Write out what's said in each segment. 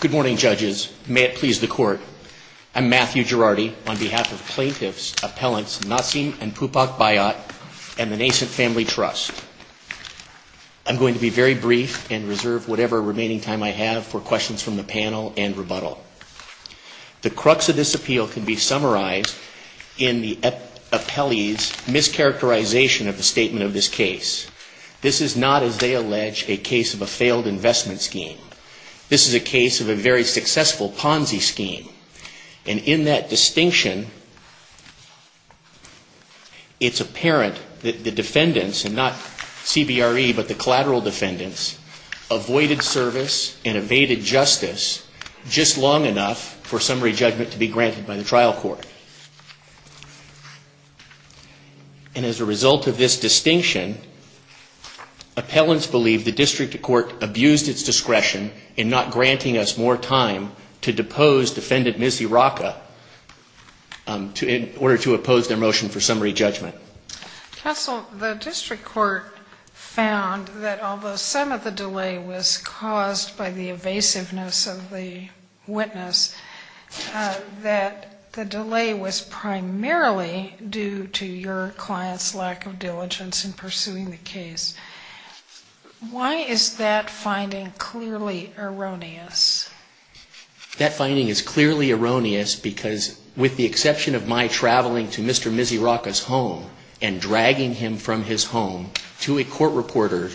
Good morning, judges. May it please the court, I'm Matthew Girardi on behalf of plaintiffs, appellants Nassim and Pupak Bayat and the Nascent Family Trust. I'm going to be very brief and reserve whatever remaining time I have for questions from the panel and rebuttal. The crux of this appeal can be summarized in the appellee's mischaracterization of the statement of this case. This is not, as they allege, a case of a failed investment scheme. This is a case of a very successful Ponzi scheme. And in that distinction, it's apparent that the defendants, and not CBRE but the collateral defendants, avoided service and evaded justice just long enough for summary judgment to be granted by the trial court. And as a result of this distinction, appellants believe the district court abused its discretion in not granting us more time to depose defendant Ms. Iraka in order to oppose their motion for summary judgment. Counsel, the district court found that although some of the delay was caused by the evasiveness of the witness, that the delay was primarily due to your client's lack of diligence in pursuing the case. Why is that finding clearly erroneous? That finding is clearly erroneous because with the exception of my traveling to Mr. Ms. Iraka's home and dragging him from his home to a court reporter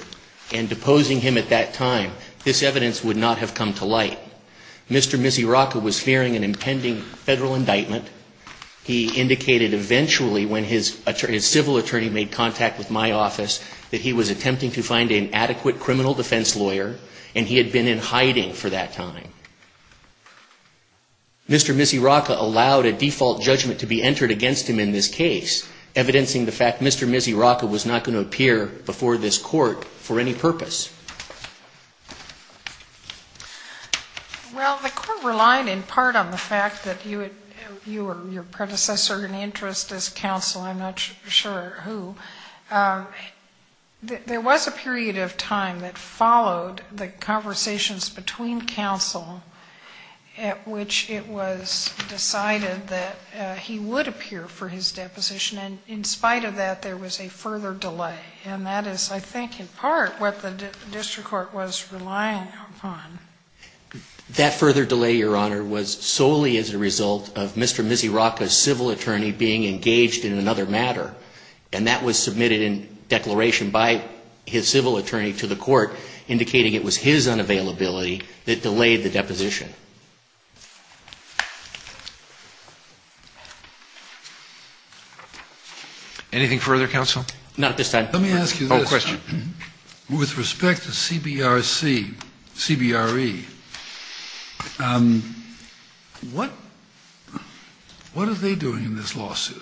and deposing him at that time, this evidence would not have come to light. Mr. Ms. Iraka was fearing an attempt to find an adequate criminal defense lawyer, and he had been in hiding for that time. Mr. Ms. Iraka allowed a default judgment to be entered against him in this case, evidencing the fact that Mr. Ms. Iraka was not going to appear before this court for any purpose. Well, the court relied in part on the fact that you were your predecessor in interest as counsel. I'm not sure who. There was a period of time that followed the conversations between counsel at which it was decided that he would appear for his deposition. And in spite of that, there was a further delay. And that is, I think, in part what the district court was relying upon. That further delay, Your Honor, was solely as a result of Mr. Ms. Iraka's civil attorney being engaged in another matter. And that was submitted in declaration by his civil attorney to the court, indicating it was his unavailability that delayed the deposition. Anything further, counsel? Not at this time. Let me ask you this. Oh, question. With respect to CBRC, CBRE, what are they doing in this lawsuit?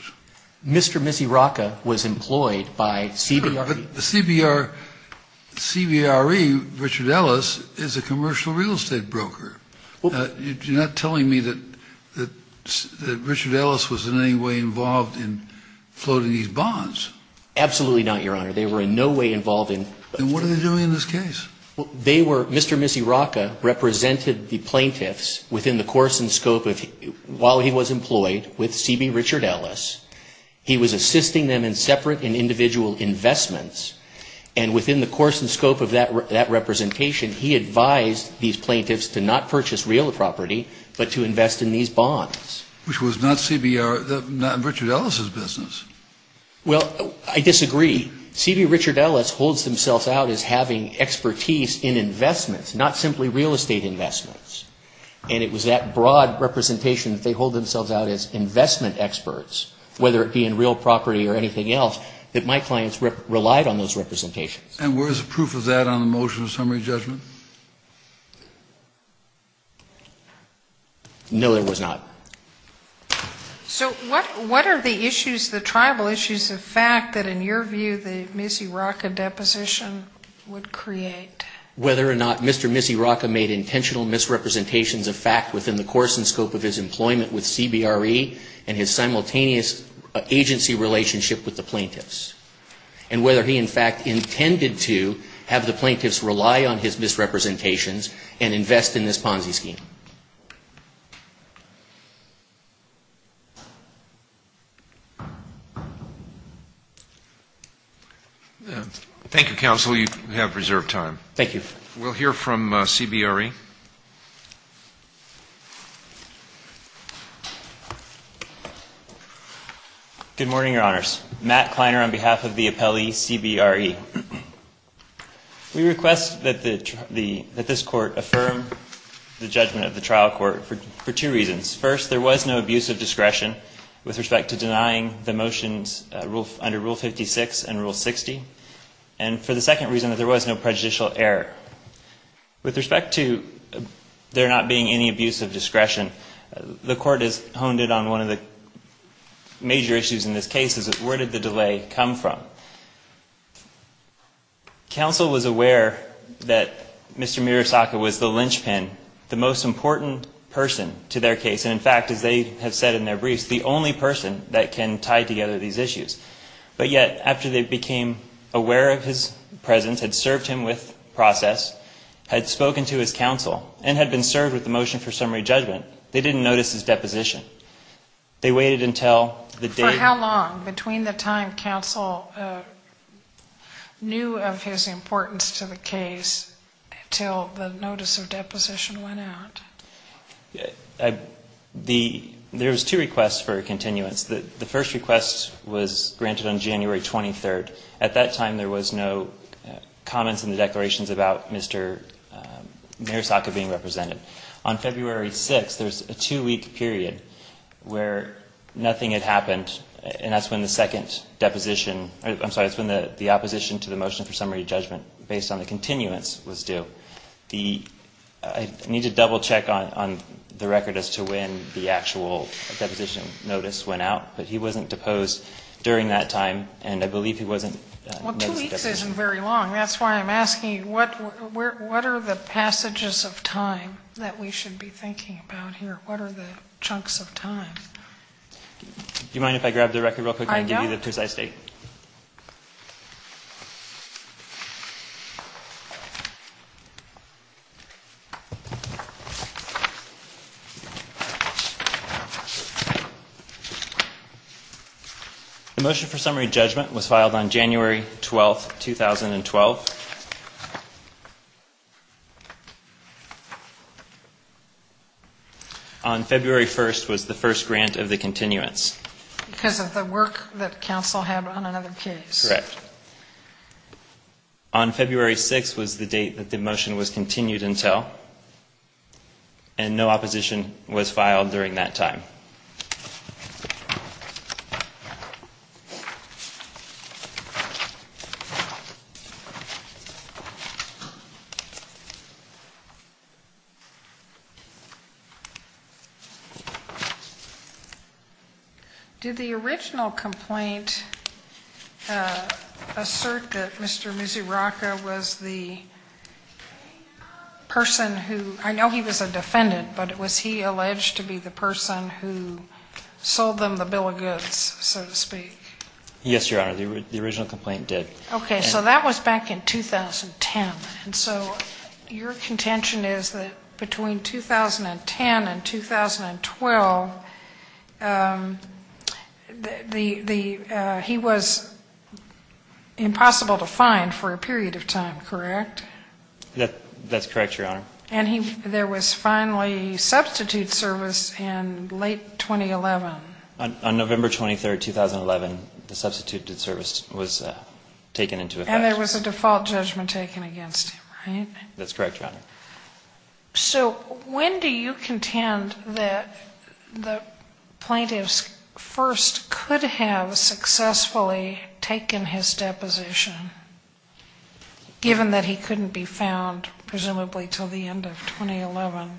Mr. Ms. Iraka was employed by CBRC. Sure, but the CBRC, Richard Ellis, is a commercial real estate broker. You're not telling me that Richard Ellis was in any way involved in floating these bonds. Absolutely not, Your Honor. They were in no way involved in. Then what are they doing in this case? They were, Mr. Ms. Iraka represented the plaintiffs within the course and scope of, while he was with Richard Ellis, he was assisting them in separate and individual investments. And within the course and scope of that representation, he advised these plaintiffs to not purchase real property, but to invest in these bonds. Which was not CBR, not Richard Ellis' business. Well, I disagree. CBR Richard Ellis holds themselves out as having expertise in investments, not simply real estate investments. And it was that broad representation that they hold themselves out as investment experts, whether it be in real property or anything else, that my clients relied on those representations. And where is the proof of that on the motion of summary judgment? No, there was not. So what are the issues, the tribal issues, the fact that in your view the Ms. Iraka deposition would create? Whether or not Mr. Ms. Iraka made intentional misrepresentations of fact within the course and scope of his employment with CBRE and his simultaneous agency relationship with the plaintiffs. And whether he in fact intended to have the plaintiffs rely on his misrepresentations and invest in this Ponzi scheme. Thank you, counsel. You have reserved time. Thank you. We'll hear from CBRE. Good morning, Your Honors. Matt Kleiner on behalf of the appellee CBRE. We request that this Court affirm the judgment of the trial court for two reasons. First, there was no abuse of discretion with respect to denying the motions under Rule 56 and Rule 60. And for the second reason, that there was no prejudicial error. With respect to there not being any abuse of discretion, the Court has honed in on one of the major issues in this case, is where did the delay come from? Counsel was aware that Mr. Murasaka was the linchpin, the most important person to their case. And in fact, as they have said in their briefs, the only person that can tie together these issues. But yet, after they became aware of his presence, had served him with process, had spoken to his counsel, and had been served with the motion for summary judgment, they didn't notice his deposition. They waited until the date... For how long, between the time counsel knew of his importance to the case until the notice of deposition went out? There was two requests for continuance. The first request was granted on January 23rd. At that time, there was no comments in the declarations about Mr. Murasaka being represented. On February 6th, there was a two-week period where nothing had happened, and that's when the second deposition... I'm sorry, it's when the opposition to the motion for summary judgment based on the continuance was due. So the... I need to double-check on the record as to when the actual deposition notice went out, but he wasn't deposed during that time, and I believe he wasn't... Well, two weeks isn't very long. That's why I'm asking, what are the passages of time that we should be thinking about here? What are the chunks of time? Do you mind if I grab the record real quick? I know. I'll give you the precise date. The motion for summary judgment was filed on January 12th, 2012. Correct. On February 1st was the first grant of the continuance. Because of the work that counsel had on another case. Correct. On February 6th was the date that the motion was continued until, and no opposition was filed during that time. Thank you. Did the original complaint assert that Mr. Mizuraka was the person who... I know he was a defendant, but was he alleged to be the person who sold them the bill of goods, so to speak? Yes, Your Honor, the original complaint did. Okay, so that was back in 2010. And so your contention is that between 2010 and 2012, he was impossible to find for a period of time, correct? That's correct, Your Honor. And there was finally substitute service in late 2011. On November 23rd, 2011, the substituted service was taken into effect. And there was a default judgment taken against him, right? That's correct, Your Honor. So when do you contend that the plaintiffs first could have successfully taken his deposition, given that he couldn't be found presumably until the end of 2011?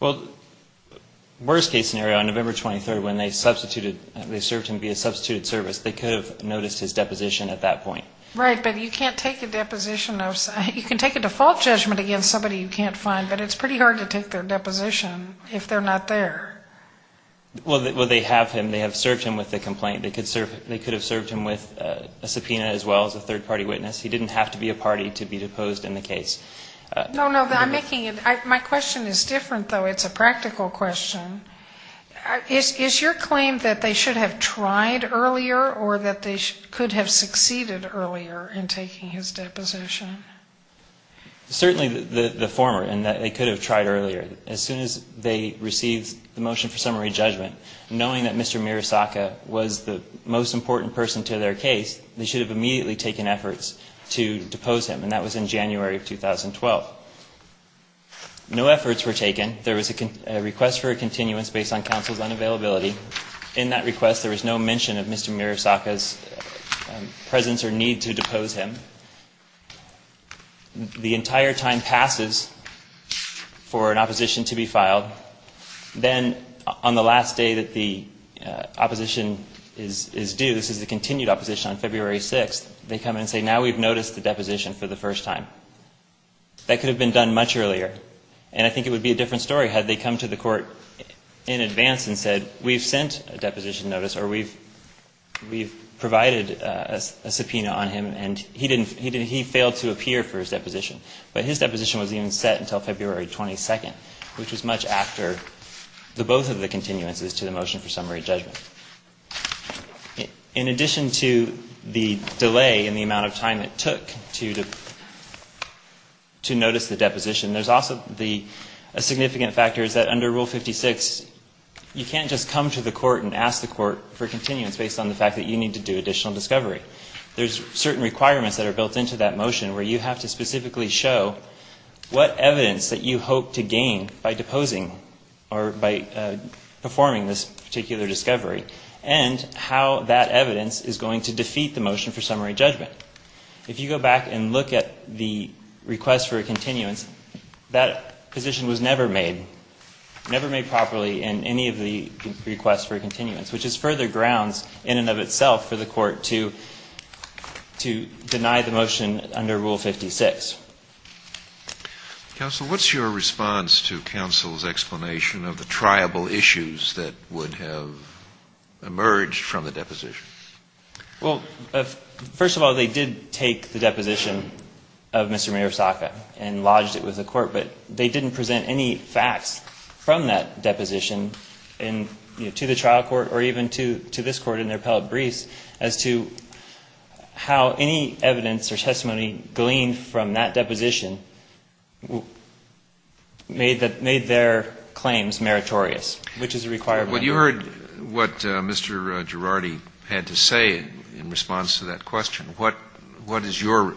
Well, worst case scenario, on November 23rd, when they substituted, they served him via substituted service, they could have noticed his deposition at that point. Right, but you can't take a deposition of, you can take a default judgment against somebody you can't find, but it's pretty hard to take their deposition if they're not there. Well, they have him. They have served him with a complaint. They could have served him with a subpoena as well as a third-party witness. He didn't have to be a party to be deposed in the case. No, no, I'm making it, my question is different, though. It's a practical question. Is your claim that they should have tried earlier or that they could have succeeded earlier in taking his deposition? Certainly the former, in that they could have tried earlier. As soon as they received the motion for summary judgment, knowing that Mr. Mirasaka was the most important person to their case, they should have immediately taken efforts to depose him. And that was in January of 2012. No efforts were taken. There was a request for a continuance based on counsel's unavailability. In that request, there was no mention of Mr. Mirasaka's presence or need to depose him. The entire time passes for an opposition to be filed. Then on the last day that the opposition is due, this is a continued opposition on February 6th, they come in and say, now we've noticed the deposition for the first time. That could have been done much earlier. And I think it would be a different story had they come to the court in advance and said, we've sent a deposition notice or we've provided a subpoena on him and he failed to appear for his deposition. But his deposition was even set until February 22nd, which was much after the both of the continuances to the motion for summary judgment. In addition to the delay in the amount of time it took to notice the deposition, there's also a significant factor is that under Rule 56, you can't just come to the court and ask the court for continuance based on the fact that you need to do additional discovery. There's certain requirements that are built into that motion where you have to specifically show what evidence that you hope to gain by deposing or by performing this particular discovery and how that evidence is going to defeat the motion for summary judgment. If you go back and look at the request for a continuance, that position was never made, never made properly in any of the requests for continuance, which is further grounds in and of itself for the court to deny the motion under Rule 56. Counsel, what's your response to counsel's explanation of the triable issues that would have emerged from the deposition? Well, first of all, they did take the deposition of Mr. Mayorsaka and lodged it with the court, but they didn't present any facts from that deposition to the trial court or even to this court in their appellate briefs as to how any evidence or facts from that deposition made their claims meritorious, which is a required requirement. Well, you heard what Mr. Girardi had to say in response to that question. What is your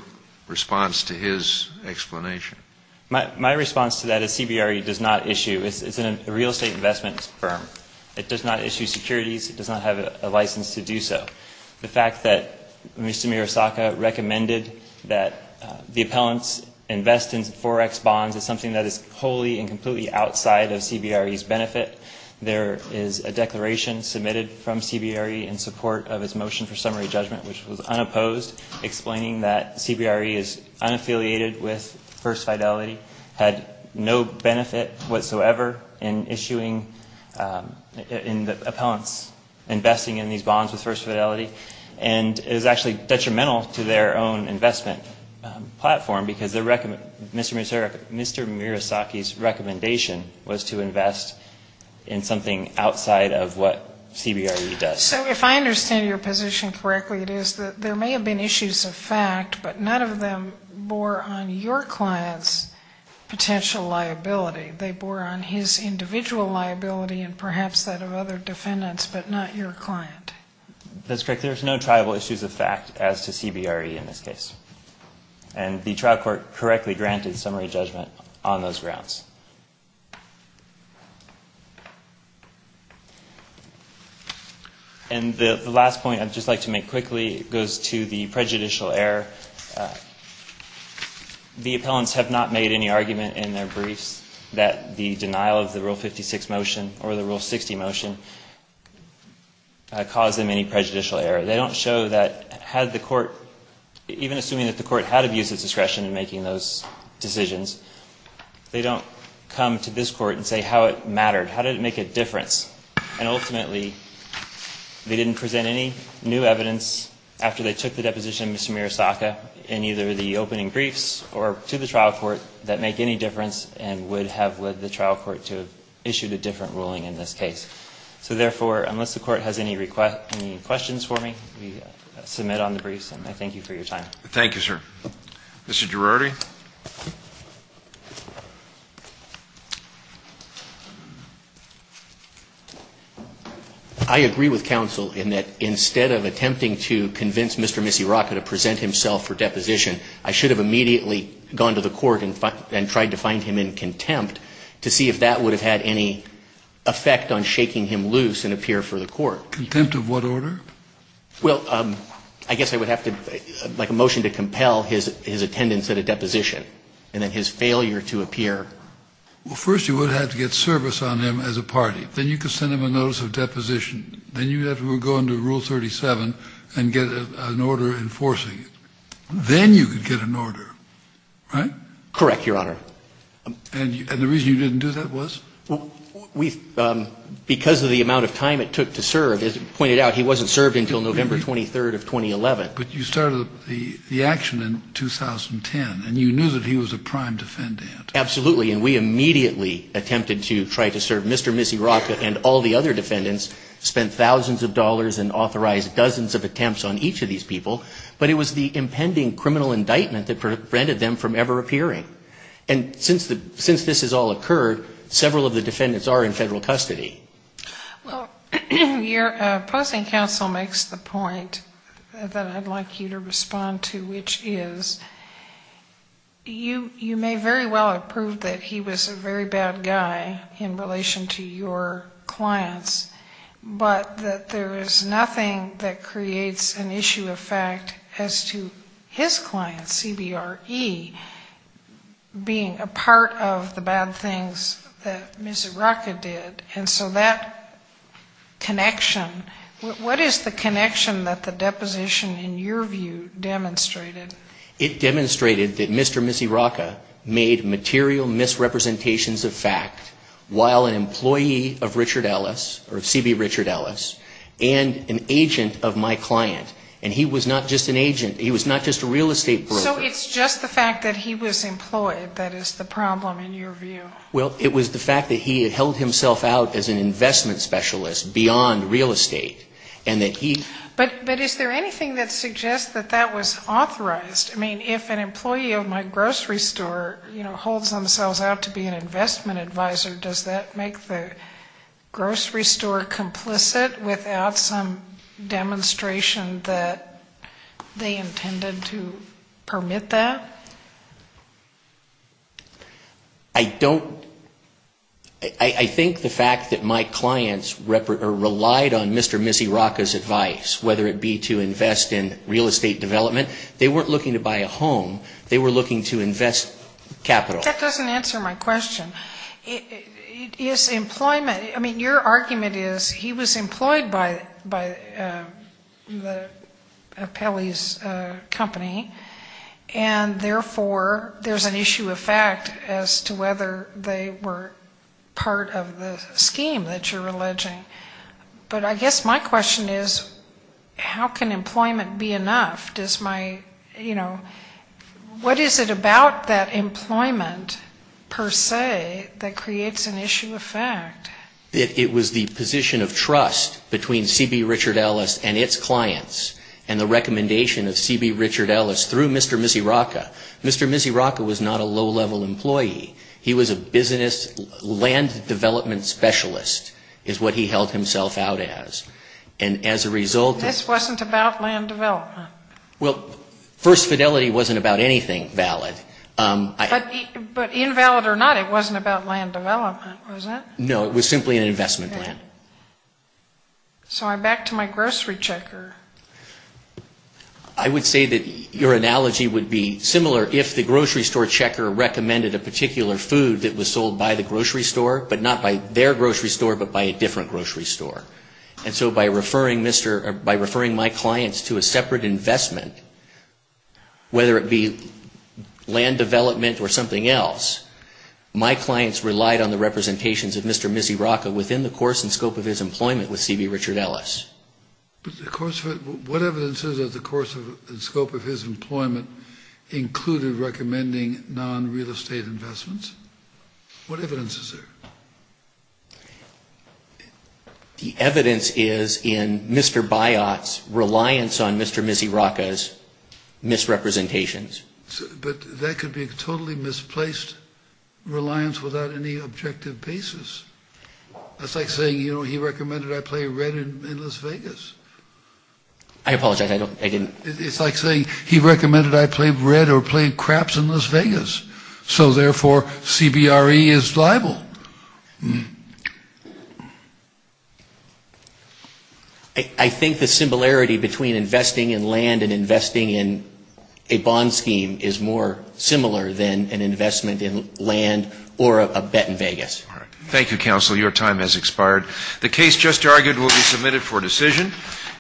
response to his explanation? My response to that is CBRE does not issue, it's a real estate investment firm, it does not issue securities, it does not have a license to do so. The fact that Mr. Mayorsaka recommended that the appellants invest in 4X bonds is something that is wholly and completely outside of CBRE's benefit. There is a declaration submitted from CBRE in support of its motion for summary judgment, which was unopposed, explaining that CBRE is unaffiliated with First Fidelity, had no benefit whatsoever in issuing, in the appellants investing in these bonds with First Fidelity, and is actually detrimental to their own investment platform, because Mr. Mayorsaki's recommendation was to invest in something outside of what CBRE does. So if I understand your position correctly, it is that there may have been issues of fact, but none of them bore on your client's potential liability. They bore on his individual liability and perhaps that of other defendants, but not your client. That's correct. There's no tribal issues of fact as to CBRE in this case. And the trial court correctly granted summary judgment on those grounds. And the last point I'd just like to make quickly goes to the prejudicial error. The appellants have not made any argument in their briefs that the denial of the Rule 60 motion caused them any prejudicial error. They don't show that had the court, even assuming that the court had abused its discretion in making those decisions, they don't come to this court and say how it mattered, how did it make a difference. And ultimately, they didn't present any new evidence after they took the deposition of Mr. Mayorsaki in either the opening briefs or to the trial court that make any difference and would have led the trial court to have issued a different ruling in this case. So therefore, unless the court has any questions for me, we submit on the briefs and I thank you for your time. Thank you, sir. Mr. Girardi? I agree with counsel in that instead of attempting to convince Mr. Missy Rockett to present himself for deposition, I should have immediately gone to the court and tried to find him in contempt to see if that would have had any effect on shaking him loose and appear for the court. Contempt of what order? Well, I guess I would have to make a motion to compel his attendance at a deposition and then his failure to appear. Well, first you would have to get service on him as a party. Then you could send him a notice of deposition. Then you would have to go under Rule 37 and get an order enforcing it. Then you could get an order, right? Correct, Your Honor. And the reason you didn't do that was? Because of the amount of time it took to serve. As pointed out, he wasn't served until November 23rd of 2011. But you started the action in 2010 and you knew that he was a prime defendant. Absolutely, and we immediately attempted to try to serve Mr. Missy Rockett and all the other defendants, spent thousands of dollars and authorized dozens of attempts on each of these people. But it was the impending criminal indictment that prevented them from ever appearing. And since this has all occurred, several of the defendants are in federal custody. Well, your opposing counsel makes the point that I'd like you to respond to, which is you may very well have proved that he was a very bad guy in relation to your clients, but that there is nothing that creates an issue of fact as to his client, CBRE, being a part of the bad things that Missy Rockett did. And so that connection, what is the connection that the deposition in your view demonstrated? It demonstrated that Mr. Missy Rockett made material misrepresentations of fact while an employee of Richard Ellis or CB Richard Ellis and an agent of my client, and he was not just an agent. So it's just the fact that he was employed that is the problem in your view? Well, it was the fact that he had held himself out as an investment specialist beyond real estate, and that he... But is there anything that suggests that that was authorized? I mean, if an employee of my grocery store, you know, holds themselves out to be an investment advisor, does that make the grocery store complicit without some demonstration that they intended to permit that? I don't... I think the fact that my clients relied on Mr. Missy Rockett's advice, whether it be to invest in real estate development, they weren't looking to buy a home. They were looking to invest capital. That doesn't answer my question. Is employment... I mean, your argument is he was employed by the Apelli's company, and therefore there's an issue of fact as to whether they were part of the scheme that you're alleging. But I guess my question is how can employment be enough? Does my, you know... What is it about that employment per se that creates an issue of fact? It was the position of trust between C.B. Richard Ellis and its clients and the recommendation of C.B. Richard Ellis through Mr. Missy Rockett. Mr. Missy Rockett was not a low-level employee. He was a business... land development specialist is what he held himself out as, and as a result... This wasn't about land development. Well, First Fidelity wasn't about anything valid. But invalid or not, it wasn't about land development, was it? No, it was simply an investment plan. So I'm back to my grocery checker. I would say that your analogy would be similar if the grocery store checker recommended a particular food that was sold by the grocery store, but not by their grocery store, but by a different grocery store. And so by referring my clients to a separate investment, whether it be land development or something else, my clients relied on the representations of Mr. Missy Rockett within the course and scope of his employment with C.B. Richard Ellis. What evidence is there that the course and scope of his employment included recommending non-real estate investments? What evidence is there? The evidence is in Mr. Biot's reliance on Mr. Missy Rockett's misrepresentations. But that could be a totally misplaced reliance without any objective basis. That's like saying, you know, he recommended I play red in Las Vegas. I apologize, I didn't... It's like saying, he recommended I play red or play craps in Las Vegas. So therefore, C.B.R.E. is liable. I think the similarity between investing in land and investing in a bond scheme is more similar than an investment in land or a bet in Vegas. Thank you, counsel. Your time has expired. The case just argued will be submitted for decision.